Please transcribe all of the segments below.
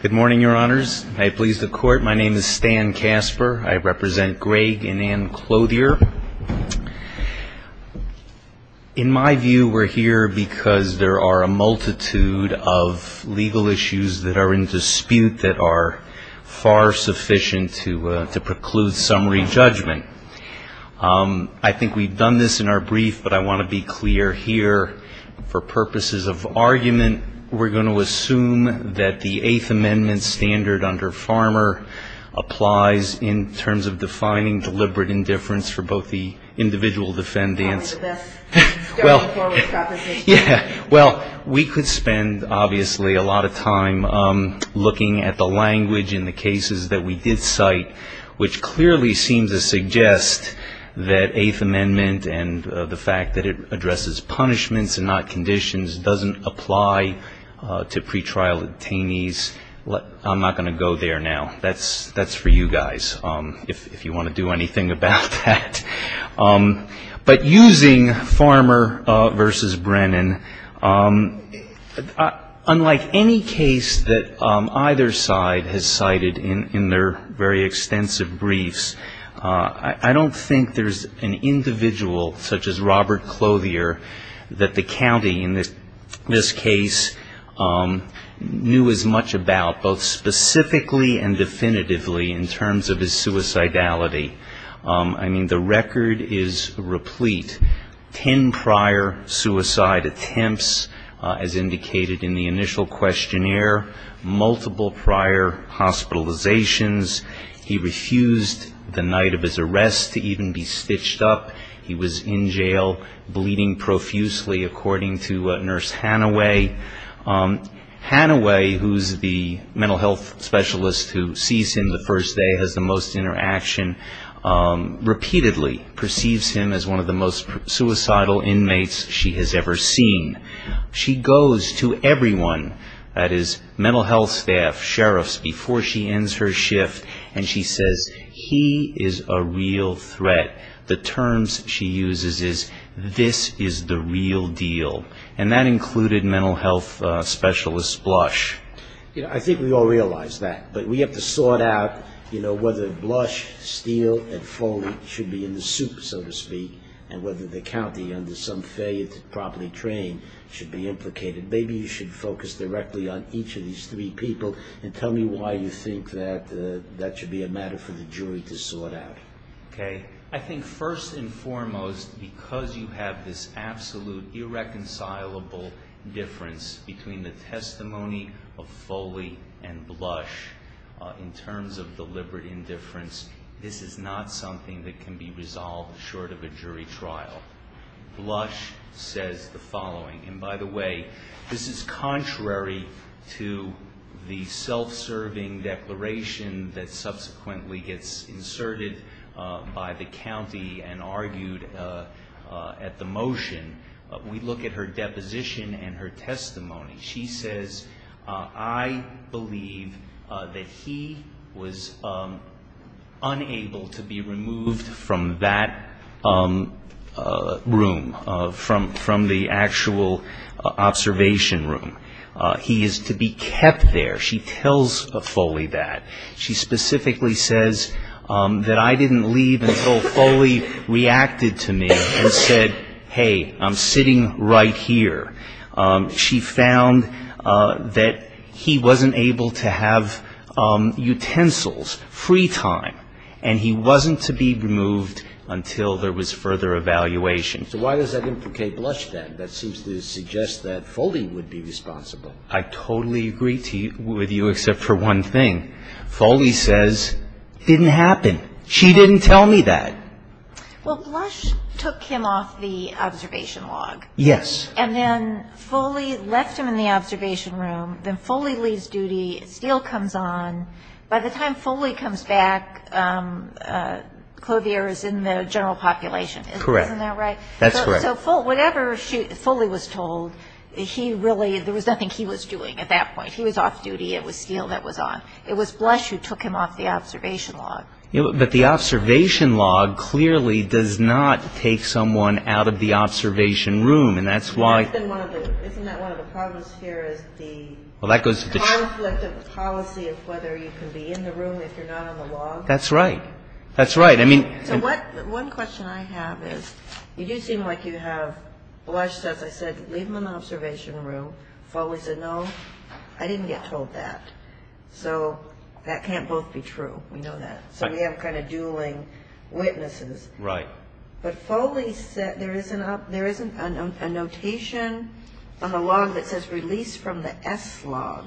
Good morning, your honors. I please the court. My name is Stan Casper. I represent Greg and Ann Clouthier. In my view, we're here because there are a multitude of legal issues that are in dispute that are far sufficient to preclude summary judgment. I think we've done this in our brief, but I want to be clear here. For purposes of argument, we're going to assume that the Eighth Amendment standard under Farmer applies in terms of defining deliberate indifference for both the individual defendants. Well, we could spend, obviously, a lot of time looking at the language in the cases that we did cite, which clearly seems to suggest that Eighth Amendment and the fact that it addresses punishments and not conditions doesn't apply to pretrial detainees. I'm not going to go there now. That's for you guys, if you want to do anything about that. But using Farmer v. Brennan, unlike any case that either side has cited in their very extensive briefs, I don't think there's an individual such as Robert Clouthier that the county in this case knew as much about, both specifically and definitively, in terms of his suicidality. I mean, the record is replete. Ten prior suicide attempts, as indicated in the initial questionnaire. Multiple prior hospitalizations. He refused the night of his arrest to even be stitched up. He was in jail, bleeding profusely, according to Nurse Hannaway. Hannaway, who's the mental health specialist who sees him the first day, has the most interaction, repeatedly perceives him as one of the most suicidal inmates she has ever seen. She goes to everyone, that is, mental health staff, sheriffs, before she ends her shift, and she says, he is a real threat. The terms she uses is, this is the real deal. And that included mental health specialist Blush. I think we all realize that, but we have to sort out whether Blush, Steele, and Foley should be in the soup, so to speak, and whether the county, under some failure to properly train, should be implicated. Maybe you should focus directly on each of these three people and tell me why you think that that should be a matter for the jury to sort out. I think first and foremost, because you have this absolute, irreconcilable difference between the testimony of Foley and Blush, in terms of deliberate indifference, this is not something that can be resolved short of a jury trial. Blush says the following, and by the way, this is contrary to the self-serving declaration that subsequently gets inserted by the county and argued at the motion. We look at her deposition and her testimony. She says, I believe that he was unable to be removed from that room, from the actual observation room. He is to be kept there. She tells Foley that. She specifically says that I didn't leave until Foley reacted to me and said, hey, I'm sitting right here. She found that he wasn't able to have utensils, free time, and he wasn't to be removed until there was further evaluation. So why does that implicate Blush then? That seems to suggest that Foley would be responsible. I totally agree with you except for one thing. Foley says it didn't happen. She didn't tell me that. Well, Blush took him off the observation log. Yes. And then Foley left him in the observation room. Then Foley leaves duty, Steele comes on. By the time Foley comes back, Clovier is in the general population. Correct. Isn't that right? That's correct. So whenever Foley was told, he really, there was nothing he was doing at that point. He was off duty. It was Steele that was on. It was Blush who took him off the observation log. But the observation log clearly does not take someone out of the observation room. Isn't that one of the problems here is the conflict of policy of whether you can be in the room if you're not on the log? That's right. That's right. So one question I have is you do seem like you have Blush, as I said, leave him in the observation room. Foley said, no, I didn't get told that. So that can't both be true. We know that. So we have kind of dueling witnesses. Right. But Foley said there isn't a notation on the log that says release from the S log.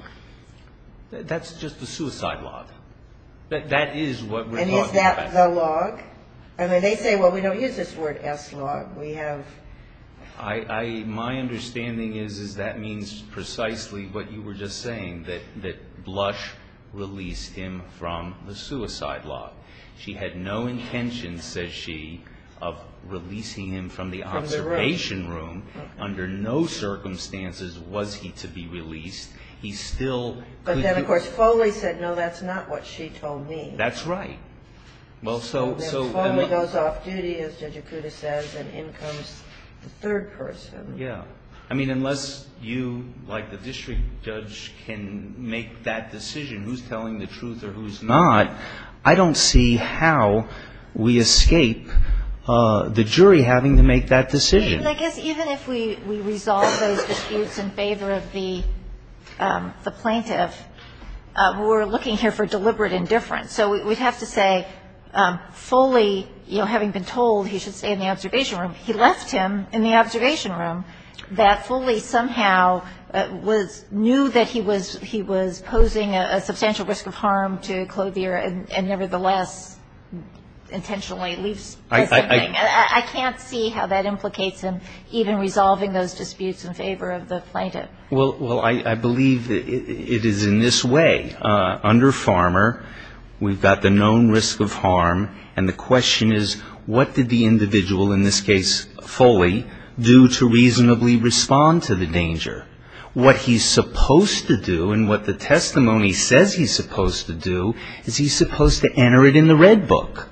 That's just the suicide log. That is what we're talking about. Is that the log? I mean, they say, well, we don't use this word S log. My understanding is that means precisely what you were just saying, that Blush released him from the suicide log. She had no intention, says she, of releasing him from the observation room. Under no circumstances was he to be released. But then, of course, Foley said, no, that's not what she told me. That's right. So then Foley goes off duty, as Judge Akuta says, and in comes the third person. Yeah. I mean, unless you, like the district judge, can make that decision, who's telling the truth or who's not, I don't see how we escape the jury having to make that decision. I guess even if we resolve those disputes in favor of the plaintiff, we're looking here for deliberate indifference. So we'd have to say Foley, you know, having been told he should stay in the observation room, he left him in the observation room, that Foley somehow knew that he was posing a substantial risk of harm to Clothier and nevertheless intentionally leaves. I can't see how that implicates in even resolving those disputes in favor of the plaintiff. Well, I believe it is in this way. Under Farmer, we've got the known risk of harm, and the question is, what did the individual, in this case Foley, do to reasonably respond to the danger? What he's supposed to do and what the testimony says he's supposed to do is he's supposed to enter it in the red book.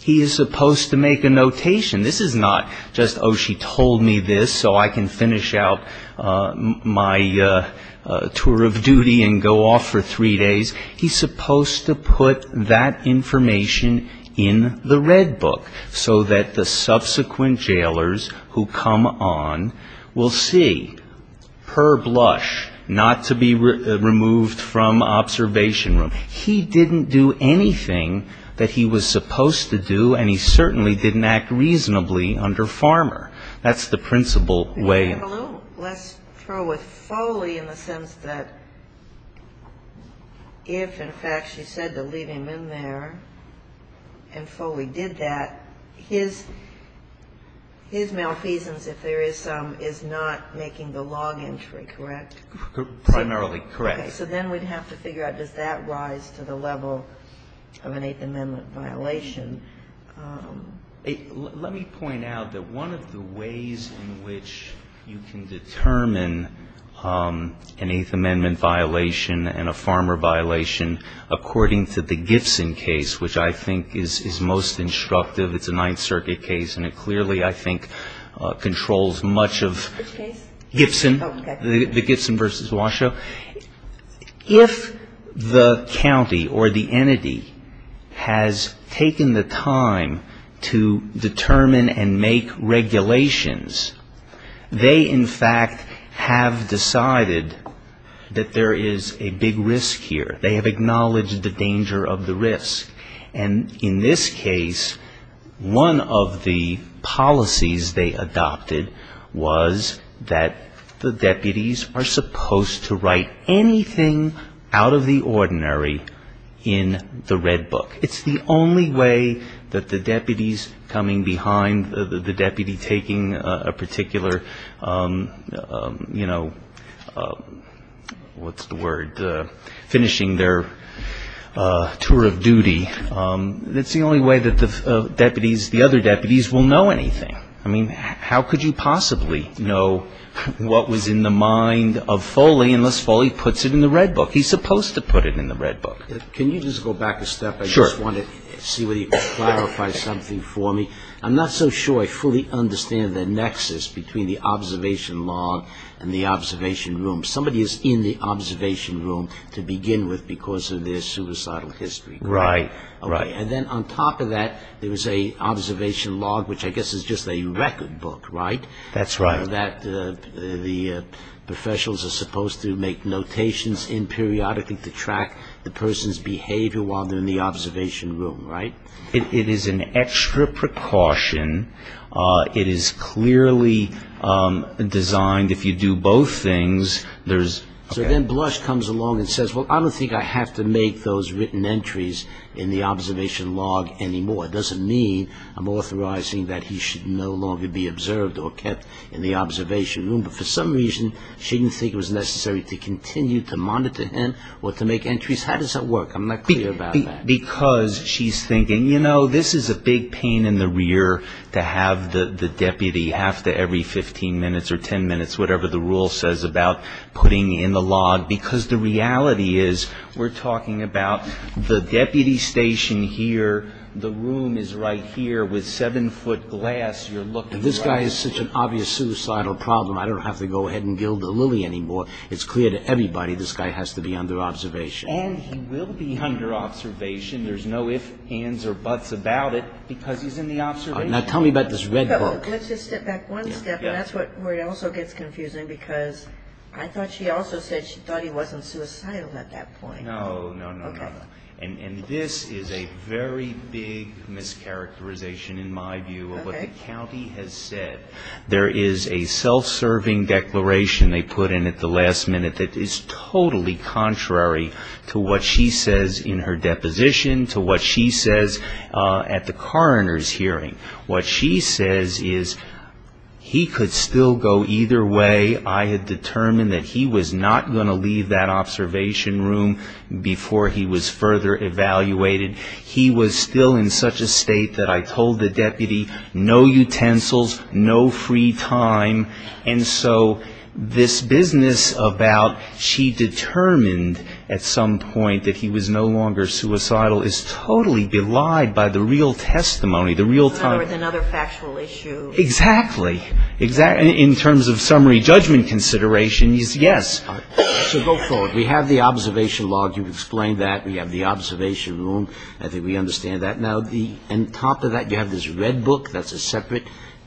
He is supposed to make a notation. This is not just, oh, she told me this so I can finish out my tour of duty and go off for three days. He's supposed to put that information in the red book so that the subsequent jailers who come on will see, per blush, not to be removed from observation room. He didn't do anything that he was supposed to do, and he certainly didn't act reasonably under Farmer. That's the principal way. Let's throw with Foley in the sense that if, in fact, she said to leave him in there and Foley did that, his malfeasance, if there is some, is not making the log entry, correct? Primarily correct. Okay. So then we'd have to figure out, does that rise to the level of an Eighth Amendment violation? Let me point out that one of the ways in which you can determine an Eighth Amendment violation and a Farmer violation, according to the Gibson case, which I think is most instructive, it's a Ninth Circuit case and it clearly, I think, controls much of... Which case? Gibson. Okay. The Gibson v. Washoe. If the county or the entity has taken the time to determine and make regulations, they, in fact, have decided that there is a big risk here. They have acknowledged the danger of the risk. And in this case, one of the policies they adopted was that the deputies are supposed to write anything out of the ordinary in the red book. It's the only way that the deputies coming behind, the deputy taking a particular, you know, what's the word? Finishing their tour of duty. It's the only way that the deputies, the other deputies, will know anything. I mean, how could you possibly know what was in the mind of Foley unless Foley puts it in the red book? He's supposed to put it in the red book. Can you just go back a step? Sure. I just wanted to see whether you could clarify something for me. I'm not so sure I fully understand the nexus between the observation log and the observation room. Somebody is in the observation room to begin with because of their suicidal history. Right. And then on top of that, there is an observation log, which I guess is just a record book, right? That's right. The professionals are supposed to make notations in periodically to track the person's behavior while they're in the observation room, right? It is an extra precaution. It is clearly designed, if you do both things, there's- So then Blush comes along and says, Well, I don't think I have to make those written entries in the observation log anymore. It doesn't mean I'm authorizing that he should no longer be observed or kept in the observation room. But for some reason, she didn't think it was necessary to continue to monitor him or to make entries. How does that work? I'm not clear about that. Because she's thinking, you know, this is a big pain in the rear to have the deputy half to every 15 minutes or 10 minutes, whatever the rule says about putting in the log. Because the reality is we're talking about the deputy station here. The room is right here with seven-foot glass. You're looking- This guy is such an obvious suicidal problem. I don't have to go ahead and gild the lily anymore. It's clear to everybody this guy has to be under observation. And he will be under observation. There's no ifs, ands, or buts about it because he's in the observation room. Now tell me about this red book. Let's just step back one step. And that's where it also gets confusing because I thought she also said she thought he wasn't suicidal at that point. No, no, no, no. Okay. And this is a very big mischaracterization in my view of what the county has said. There is a self-serving declaration they put in at the last minute that is totally contrary to what she says in her deposition, to what she says at the coroner's hearing. What she says is he could still go either way. I had determined that he was not going to leave that observation room before he was further evaluated. He was still in such a state that I told the deputy no utensils, no free time. And so this business about she determined at some point that he was no longer suicidal is totally belied by the real testimony, the real time. In other words, another factual issue. Exactly. In terms of summary judgment considerations, yes. So go forward. We have the observation log. You've explained that. We have the observation room. I think we understand that. Now, on top of that, you have this red book that's a separate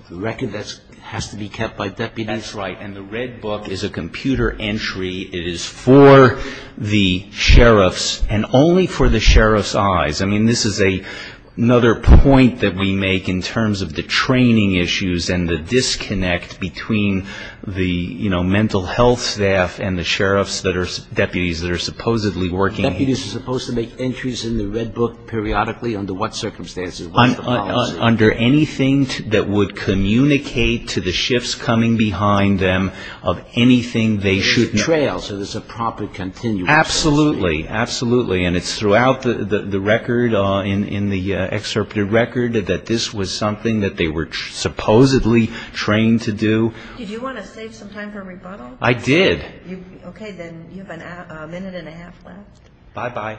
record that has to be kept by deputies. That's right. And the red book is a computer entry. It is for the sheriffs and only for the sheriffs' eyes. I mean, this is another point that we make in terms of the training issues and the disconnect between the, you know, mental health staff and the sheriffs that are deputies that are supposedly working here. The deputies are supposed to make entries in the red book periodically under what circumstances? Under anything that would communicate to the sheriffs coming behind them of anything they should know. There's a trail, so there's a proper continuum. Absolutely. Absolutely. And it's throughout the record in the excerpted record that this was something that they were supposedly trained to do. Did you want to save some time for a rebuttal? I did. Okay, then you have a minute and a half left. Bye-bye.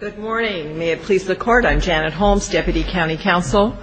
Good morning. May it please the Court. I'm Janet Holmes, Deputy County Counsel.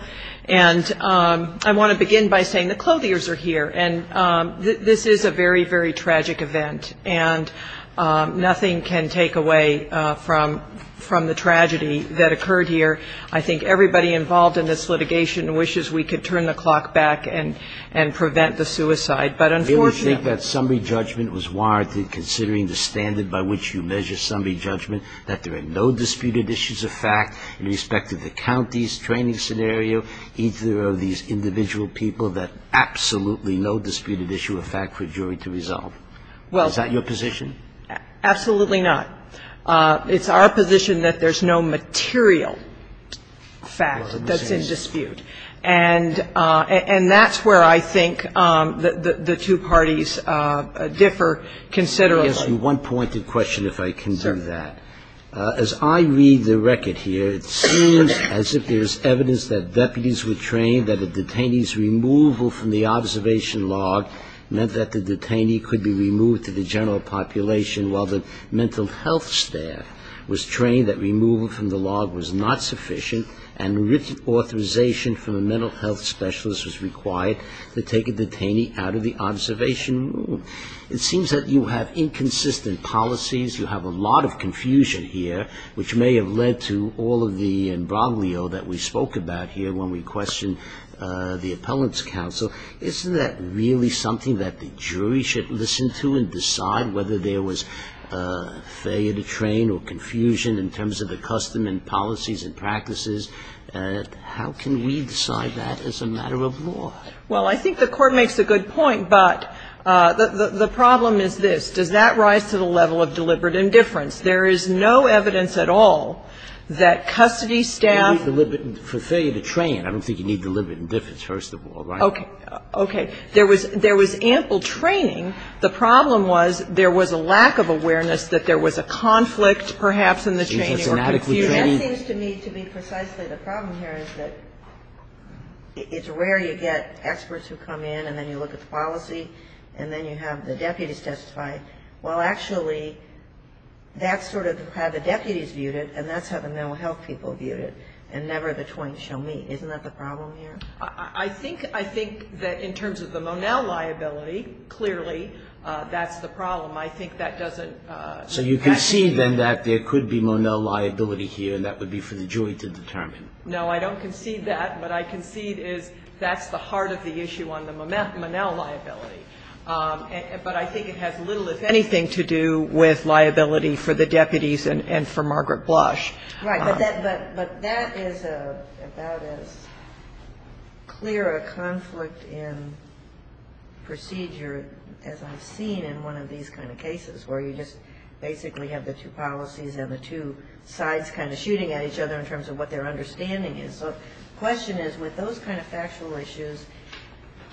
And I want to begin by saying the clothiers are here, and this is a very, very tragic event. And nothing can take away from the tragedy that occurred here. I think everybody involved in this litigation wishes we could turn the clock back and prevent the suicide. But unfortunately we don't. Do you think that summary judgment was warranted considering the standard by which you measure summary judgment, that there are no disputed issues of fact in respect to the county's training scenario, either of these individual people, that absolutely no disputed issue of fact for jury to resolve? Is that your position? Absolutely not. It's our position that there's no material fact that's in dispute. And that's where I think the two parties differ considerably. Let me ask you one pointed question, if I can do that. Sure. As I read the record here, it seems as if there's evidence that deputies were trained, that a detainee's removal from the observation log meant that the detainee could be removed to the general population, while the mental health staff was trained that removal from the log was not sufficient, and written authorization from the mental health specialist was required to take a detainee out of the observation room. It seems that you have inconsistent policies, you have a lot of confusion here, which may have led to all of the imbroglio that we spoke about here when we questioned the appellant's counsel. Isn't that really something that the jury should listen to and decide whether there was failure to train or confusion in terms of the custom and policies and practices? How can we decide that as a matter of law? Well, I think the Court makes a good point, but the problem is this. Does that rise to the level of deliberate indifference? There is no evidence at all that custody staff ---- You need deliberate failure to train. I don't think you need deliberate indifference, first of all, right? Okay. Okay. There was ample training. The problem was there was a lack of awareness that there was a conflict perhaps in the training or confusion. That seems to me to be precisely the problem here is that it's rare you get experts who come in and then you look at the policy and then you have the deputies testify. Well, actually, that's sort of how the deputies viewed it, and that's how the mental health people viewed it, and never the twain shall meet. Isn't that the problem here? I think that in terms of the Monell liability, clearly, that's the problem. I think that doesn't ---- So you concede, then, that there could be Monell liability here, and that would be for the jury to determine. No, I don't concede that. What I concede is that's the heart of the issue on the Monell liability. But I think it has little, if anything, to do with liability for the deputies and for Margaret Blush. Right. But that is about as clear a conflict in procedure as I've seen in one of these kind of cases, where you just basically have the two policies and the two sides kind of shooting at each other in terms of what their understanding is. So the question is, with those kind of factual issues,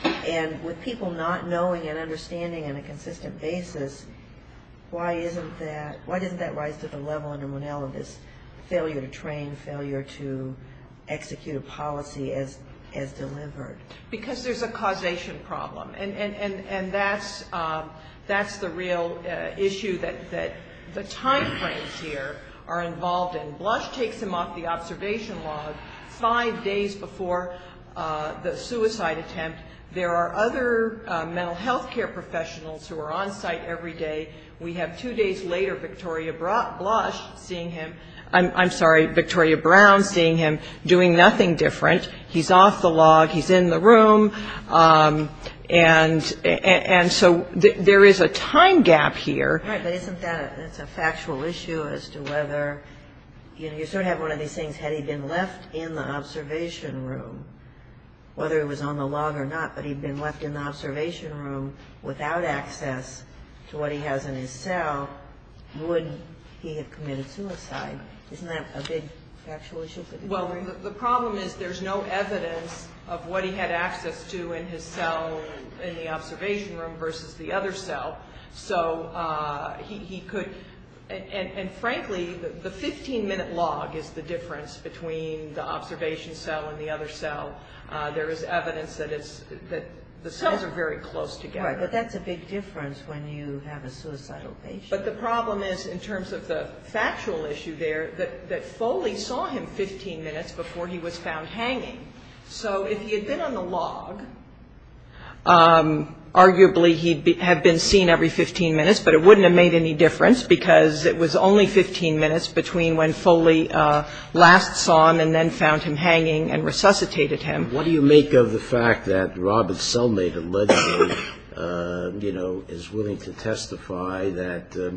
and with people not knowing and understanding on a consistent basis, why isn't that, why doesn't that rise to the level under Monell of this failure to train, failure to execute a policy as delivered? Because there's a causation problem, and that's the real issue that the timeframes here are involved in. Blush takes him off the observation log five days before the suicide attempt. There are other mental health care professionals who are on site every day. We have two days later Victoria Blush seeing him, I'm sorry, Victoria Brown seeing him, doing nothing different. He's off the log. He's in the room. And so there is a time gap here. Right, but isn't that, it's a factual issue as to whether, you know, you sort of have one of these things, had he been left in the observation room, whether he was on the log or not, but he'd been left in the observation room without access to what he has in his cell, would he have committed suicide? Isn't that a big factual issue? Well, the problem is there's no evidence of what he had access to in his cell, in the observation room, versus the other cell. So he could, and frankly, the 15-minute log is the difference between the observation cell and the other cell. There is evidence that the cells are very close together. Right, but that's a big difference when you have a suicidal patient. But the problem is, in terms of the factual issue there, that Foley saw him 15 minutes before he was found hanging. So if he had been on the log, arguably he'd have been seen every 15 minutes, but it wouldn't have made any difference because it was only 15 minutes between when Foley last saw him and then found him hanging and resuscitated him. What do you make of the fact that Robert Selmate allegedly, you know, is willing to testify that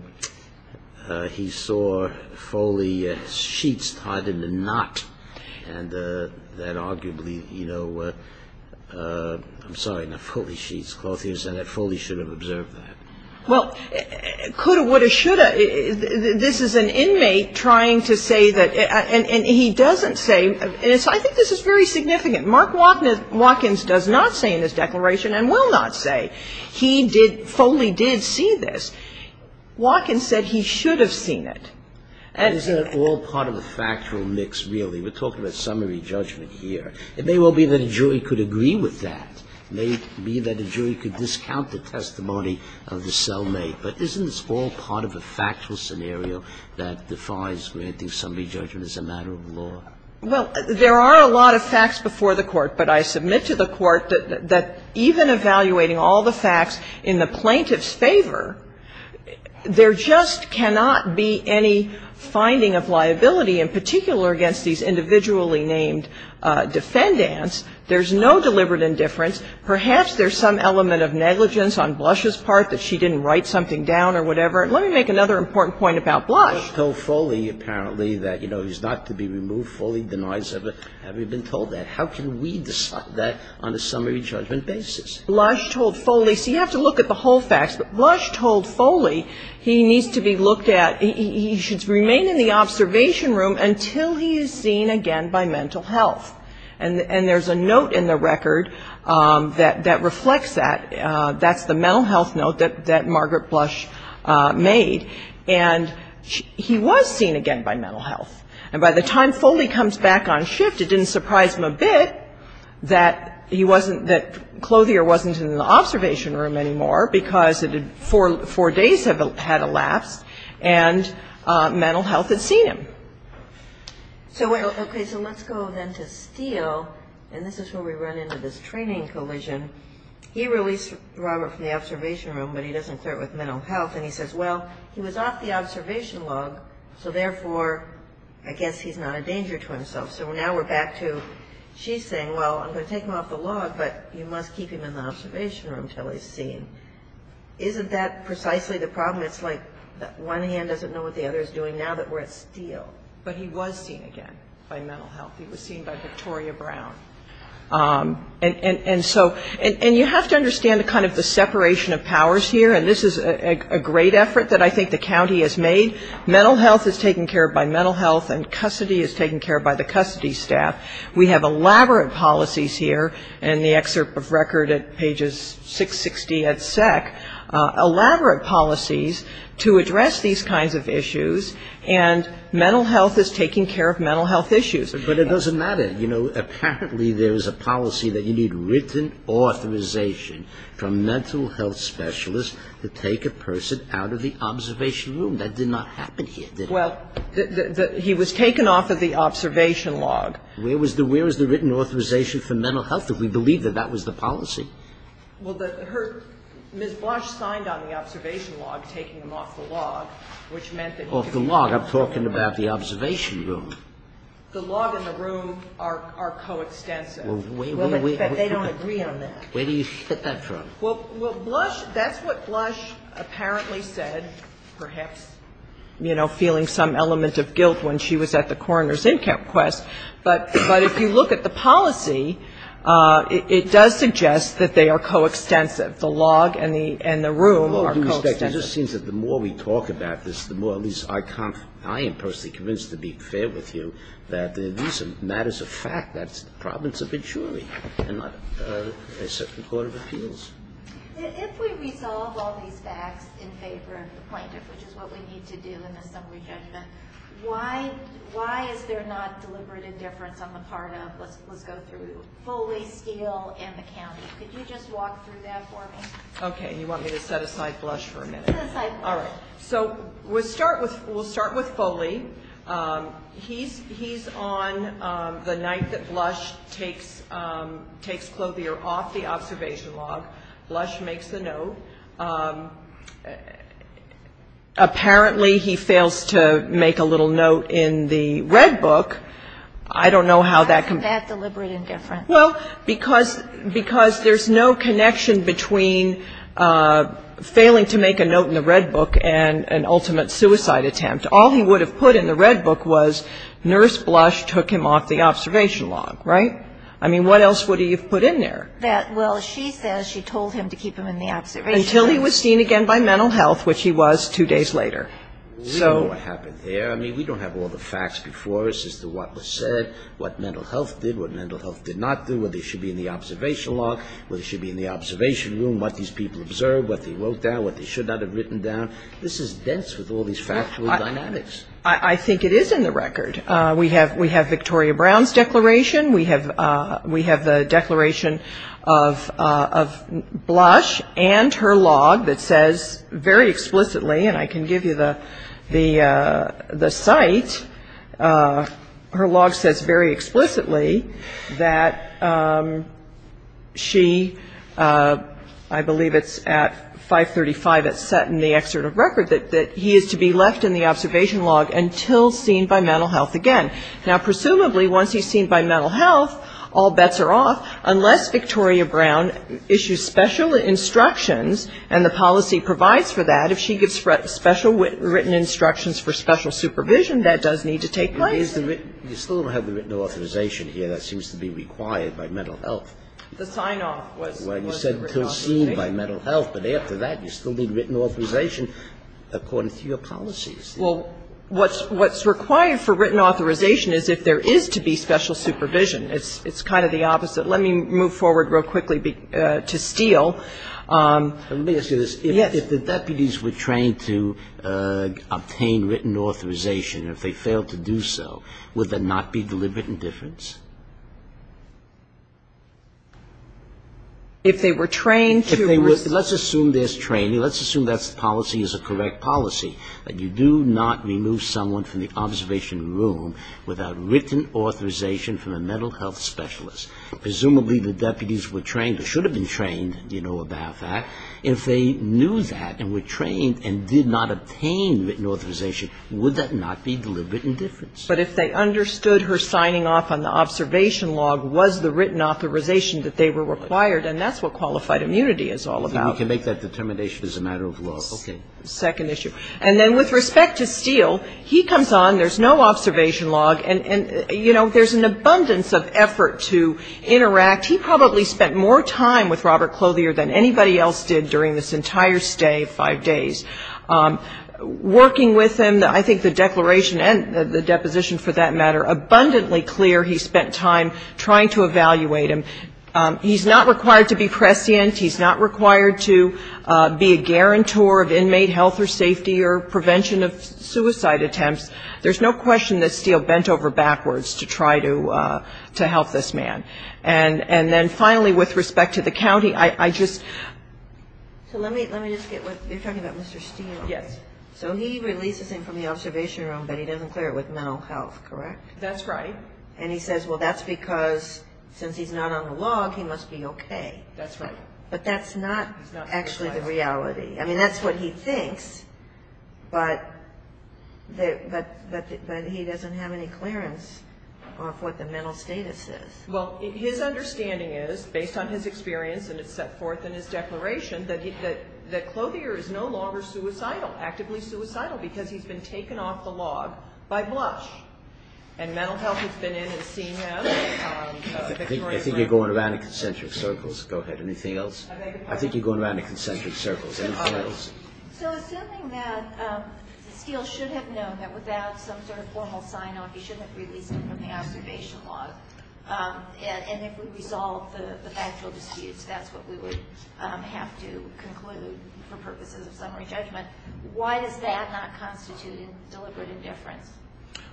he saw Foley's sheets tied in a knot, and that arguably, you know, I'm sorry, not Foley's sheets, Clothier said that Foley should have observed that? Well, coulda, woulda, shoulda, this is an inmate trying to say that, and he doesn't say, and so I think this is very significant. Mark Watkins does not say in his declaration, and will not say, he did, Foley did see this. Watkins said he should have seen it. And he didn't say that. that would agree with that. And isn't that all part of the factual mix really. We're talking about summary judgment here. It may well be that a jury could agree with that. It may be that a jury could discount the testimony of the Selmate, but isn't this all part of a factual scenario that defies granting summary judgment as a matter of law? Well, there are a lot of facts before the court, but I submit to the court that even evaluating all the facts in the plaintiff's favor, there just cannot be any finding of liability, in particular against these individually named defendants. There's no deliberate indifference. Perhaps there's some element of negligence on Blush's part that she didn't write something down or whatever. And let me make another important point about Blush. Blush told Foley apparently that, you know, he's not to be removed. Foley denies it. Have you been told that? How can we decide that on a summary judgment basis? Blush told Foley. So you have to look at the whole facts. But Blush told Foley he needs to be looked at, he should remain in the observation room until he is seen again by mental health. And there's a note in the record that reflects that. That's the mental health note that Margaret Blush made. And he was seen again by mental health. And by the time Foley comes back on shift, it didn't surprise him a bit that he wasn't, that Clothier wasn't in the observation room anymore because four days had elapsed and mental health had seen him. So let's go then to Steele, and this is where we run into this training collision. He released Robert from the observation room, but he doesn't clear it with mental health, and he says, well, he was off the observation log, so therefore, I guess he's not a danger to himself. So now we're back to, she's saying, well, I'm going to take him off the log, but you must keep him in the observation room until he's seen. Isn't that precisely the problem? It's like one hand doesn't know what the other is doing now that we're at Steele. But he was seen again by mental health. He was seen by Victoria Brown. And so, and you have to understand kind of the separation of powers here, and this is a great effort that I think the county has made. Mental health is taken care of by mental health, and custody is taken care of by the custody staff. We have elaborate policies here in the excerpt of record at pages 660 at SEC, elaborate policies to address these kinds of issues, and mental health is taking care of mental health issues. But it doesn't matter. You know, apparently there's a policy that you need written authorization from a mental health specialist to take a person out of the observation room. That did not happen here, did it? Well, he was taken off of the observation log. Where was the written authorization for mental health if we believe that that was the policy? Well, Ms. Blush signed on the observation log taking him off the log, which meant that he could be kept in the observation room. Off the log. I'm talking about the observation room. The log and the room are coextensive. Well, wait a minute. They don't agree on that. Where do you get that from? Well, Blush, that's what Blush apparently said, perhaps, you know, feeling some element of guilt when she was at the coroner's in-camp quest. But if you look at the policy, it does suggest that they are coextensive. The log and the room are coextensive. It just seems that the more we talk about this, the more at least I am personally convinced, to be fair with you, that these are matters of fact. That's the province of injury and not a certain court of appeals. If we resolve all these facts in favor of the plaintiff, which is what we need to do in the summary judgment, why is there not deliberate indifference on the part of, let's go through Foley, Steele, and the county? Could you just walk through that for me? Okay. You want me to set aside Blush for a minute? Set aside Blush. All right. So we'll start with Foley. He's on the night that Blush takes Clothier off the observation log. Blush makes a note. Apparently, he fails to make a little note in the red book. I don't know how that can be. Why isn't that deliberate indifference? Well, because there's no connection between failing to make a note in the red book and an ultimate suicide attempt. All he would have put in the red book was nurse Blush took him off the observation log, right? I mean, what else would he have put in there? Well, she says she told him to keep him in the observation log. Until he was seen again by mental health, which he was two days later. So we don't know what happened there. I mean, we don't have all the facts before us as to what was said, what mental health did, what mental health did not do, whether he should be in the observation log, whether he should be in the observation room, what these people observed, what they wrote down, what they should not have written down. This is dense with all these factual dynamics. I think it is in the record. We have Victoria Brown's declaration. We have the declaration of Blush and her log that says very explicitly, and I can give you the site, her log says very explicitly that she, I believe it's at 535, it's set in the excerpt of record, that he is to be left in the observation log until seen by mental health again. Now, presumably, once he's seen by mental health, all bets are off, unless Victoria Brown issues special instructions and the policy provides for that. If she gives special written instructions for special supervision, that does need to take place. You still don't have the written authorization here. That seems to be required by mental health. The sign-off was the written authorization. Well, you said to be seen by mental health, but after that you still need written authorization according to your policies. Well, what's required for written authorization is if there is to be special supervision. It's kind of the opposite. Let me move forward real quickly to Steele. Let me ask you this. Yes. If the deputies were trained to obtain written authorization, if they failed to do so, would there not be deliberate indifference? If they were trained to receive the written authorization. Let's assume there's training. Let's assume that policy is a correct policy, that you do not remove someone from the observation room without written authorization from a mental health specialist. Presumably the deputies were trained or should have been trained, you know, about that. If they knew that and were trained and did not obtain written authorization, would that not be deliberate indifference? But if they understood her signing off on the observation log was the written authorization that they were required, and that's what qualified immunity is all about. You can make that determination as a matter of law. Okay. Second issue. And then with respect to Steele, he comes on, there's no observation log, and, you know, there's an abundance of effort to interact. He probably spent more time with Robert Clothier than anybody else did during this entire stay of five days. Working with him, I think the declaration and the deposition, for that matter, abundantly clear he spent time trying to evaluate him. He's not required to be prescient. He's not required to be a guarantor of inmate health or safety or prevention of suicide attempts. There's no question that Steele bent over backwards to try to help this man. And then finally, with respect to the county, I just ---- So let me just get what you're talking about, Mr. Steele. Yes. So he releases him from the observation room, but he doesn't clear it with mental health, correct? That's right. And he says, well, that's because since he's not on the log, he must be okay. That's right. But that's not actually the reality. I mean, that's what he thinks, but he doesn't have any clearance of what the mental status is. Well, his understanding is, based on his experience and it's set forth in his declaration, that Clothier is no longer suicidal, actively suicidal, because he's been taken off the log by Blush. And mental health has been in and seen him. I think you're going around in concentric circles. Go ahead. Anything else? I think you're going around in concentric circles. Anything else? So assuming that Steele should have known that without some sort of formal sign-off that he shouldn't have released him from the observation log, and if we resolve the factual disputes, that's what we would have to conclude for purposes of summary judgment, why does that not constitute deliberate indifference?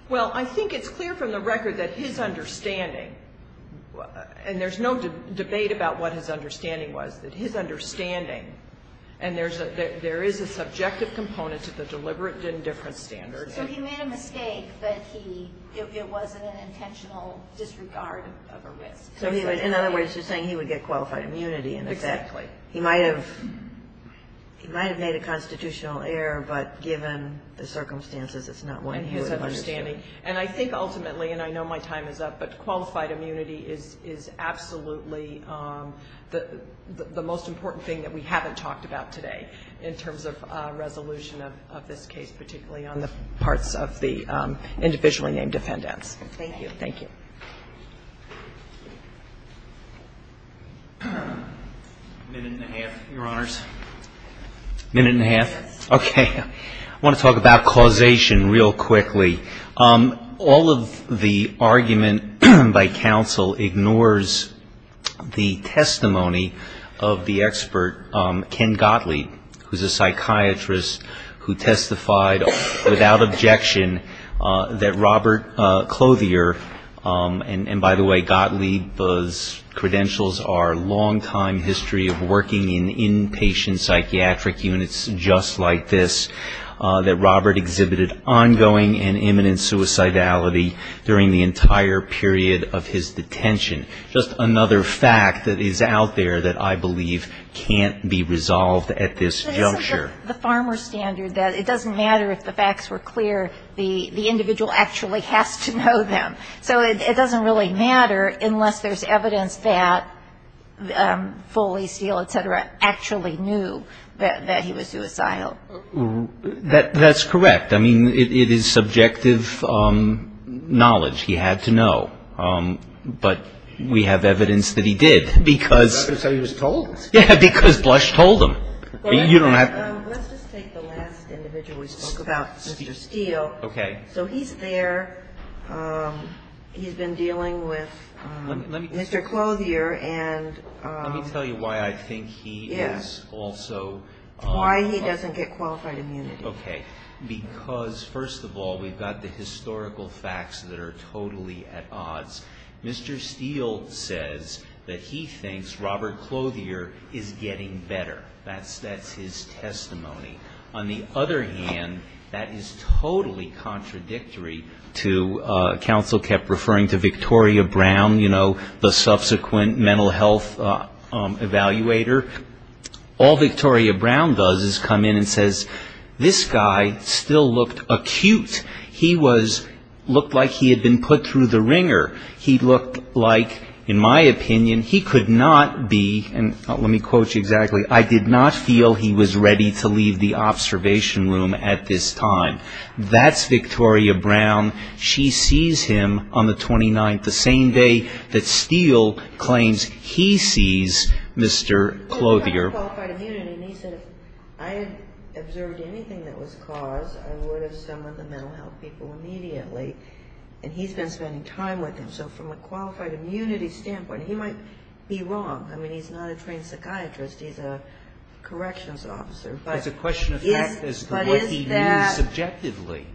Well, I think it's clear from the record that his understanding, and there's no debate about what his understanding was, that his understanding, and there is a subjective component to the deliberate indifference standard. So he made a mistake, but it wasn't an intentional disregard of a risk. In other words, you're saying he would get qualified immunity. Exactly. He might have made a constitutional error, but given the circumstances, it's not one he would have understood. And his understanding. And I think ultimately, and I know my time is up, but qualified immunity is absolutely the most important thing that we haven't talked about today in terms of resolution of this case, particularly on the parts of the individually named defendants. Thank you. Thank you. A minute and a half, Your Honors. A minute and a half. Okay. I want to talk about causation real quickly. All of the argument by counsel ignores the testimony of the expert, Ken Gottlieb, who's a psychiatrist who testified without objection that Robert Clothier, and by the way, Gottlieb's credentials are longtime history of working in inpatient psychiatric units just like this, that Robert exhibited ongoing and imminent suicidality during the entire period of his detention. Just another fact that is out there that I believe can't be resolved at this juncture. The farmer standard that it doesn't matter if the facts were clear, the individual actually has to know them. So it doesn't really matter unless there's evidence that Foley, Steele, et cetera, actually knew that he was suicidal. That's correct. I mean, it is subjective knowledge. He had to know. But we have evidence that he did because he was told. Yeah, because Blush told him. You don't have to. Let's just take the last individual we spoke about, Mr. Steele. Okay. So he's there. He's been dealing with Mr. Clothier. Let me tell you why I think he is also... Why he doesn't get qualified immunity. Okay. Because, first of all, we've got the historical facts that are totally at odds. Mr. Steele says that he thinks Robert Clothier is getting better. That's his testimony. On the other hand, that is totally contradictory to, counsel kept referring to Victoria Brown, the subsequent mental health evaluator. All Victoria Brown does is come in and says, this guy still looked acute. He looked like he had been put through the wringer. He looked like, in my opinion, he could not be, and let me quote you exactly, I did not feel he was ready to leave the observation room at this time. That's Victoria Brown. She sees him on the 29th, the same day that Steele claims he sees Mr. Clothier. He talked about qualified immunity, and he said, if I had observed anything that was caused, I would have summoned the mental health people immediately. And he's been spending time with him. So from a qualified immunity standpoint, he might be wrong. I mean, he's not a trained psychiatrist. He's a corrections officer. It's a question of fact as to what he means subjectively.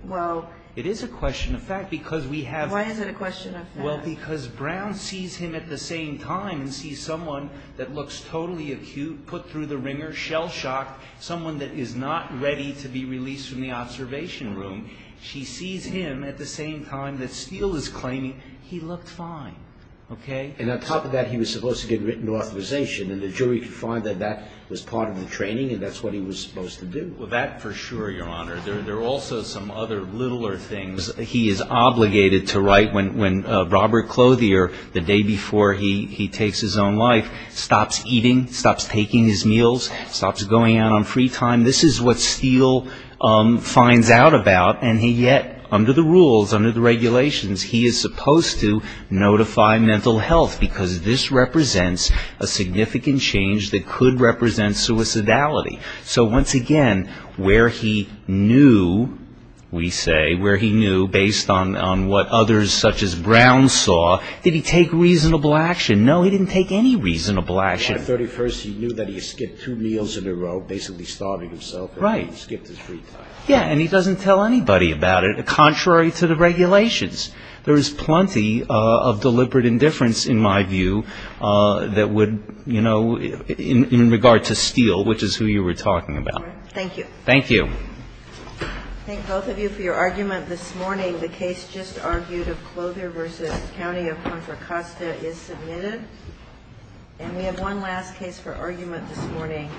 It is a question of fact because we have... Why is it a question of fact? Well, because Brown sees him at the same time and sees someone that looks totally acute, put through the wringer, shell-shocked, someone that is not ready to be released from the observation room. She sees him at the same time that Steele is claiming he looked fine. And on top of that, he was supposed to get written authorization, and the jury could find that that was part of the training, and that's what he was supposed to do. Well, that for sure, Your Honor. There are also some other littler things. He is obligated to write when Robert Clothier, the day before he takes his own life, stops eating, stops taking his meals, stops going out on free time. This is what Steele finds out about. And yet, under the rules, under the regulations, he is supposed to notify mental health because this represents a significant change that could represent suicidality. So once again, where he knew, we say, where he knew, based on what others such as Brown saw, did he take reasonable action? No, he didn't take any reasonable action. On the 31st, he knew that he had skipped two meals in a row, basically starving himself. Right. Skipped his free time. Yeah, and he doesn't tell anybody about it, contrary to the regulations. There is plenty of deliberate indifference, in my view, that would, you know, in regard to Steele, which is who you were talking about. Thank you. Thank you. I thank both of you for your argument this morning. The case just argued of Clothier v. County of Contra Costa is submitted. And we have one last case for argument this morning,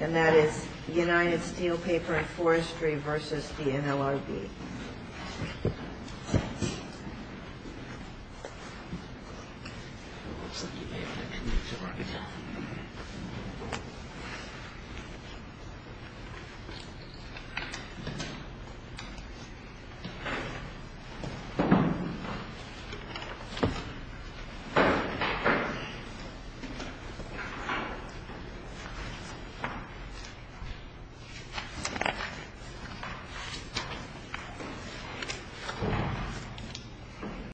and that is United Steel Paper and Forestry v. DNLRB. Thank you. Thank you.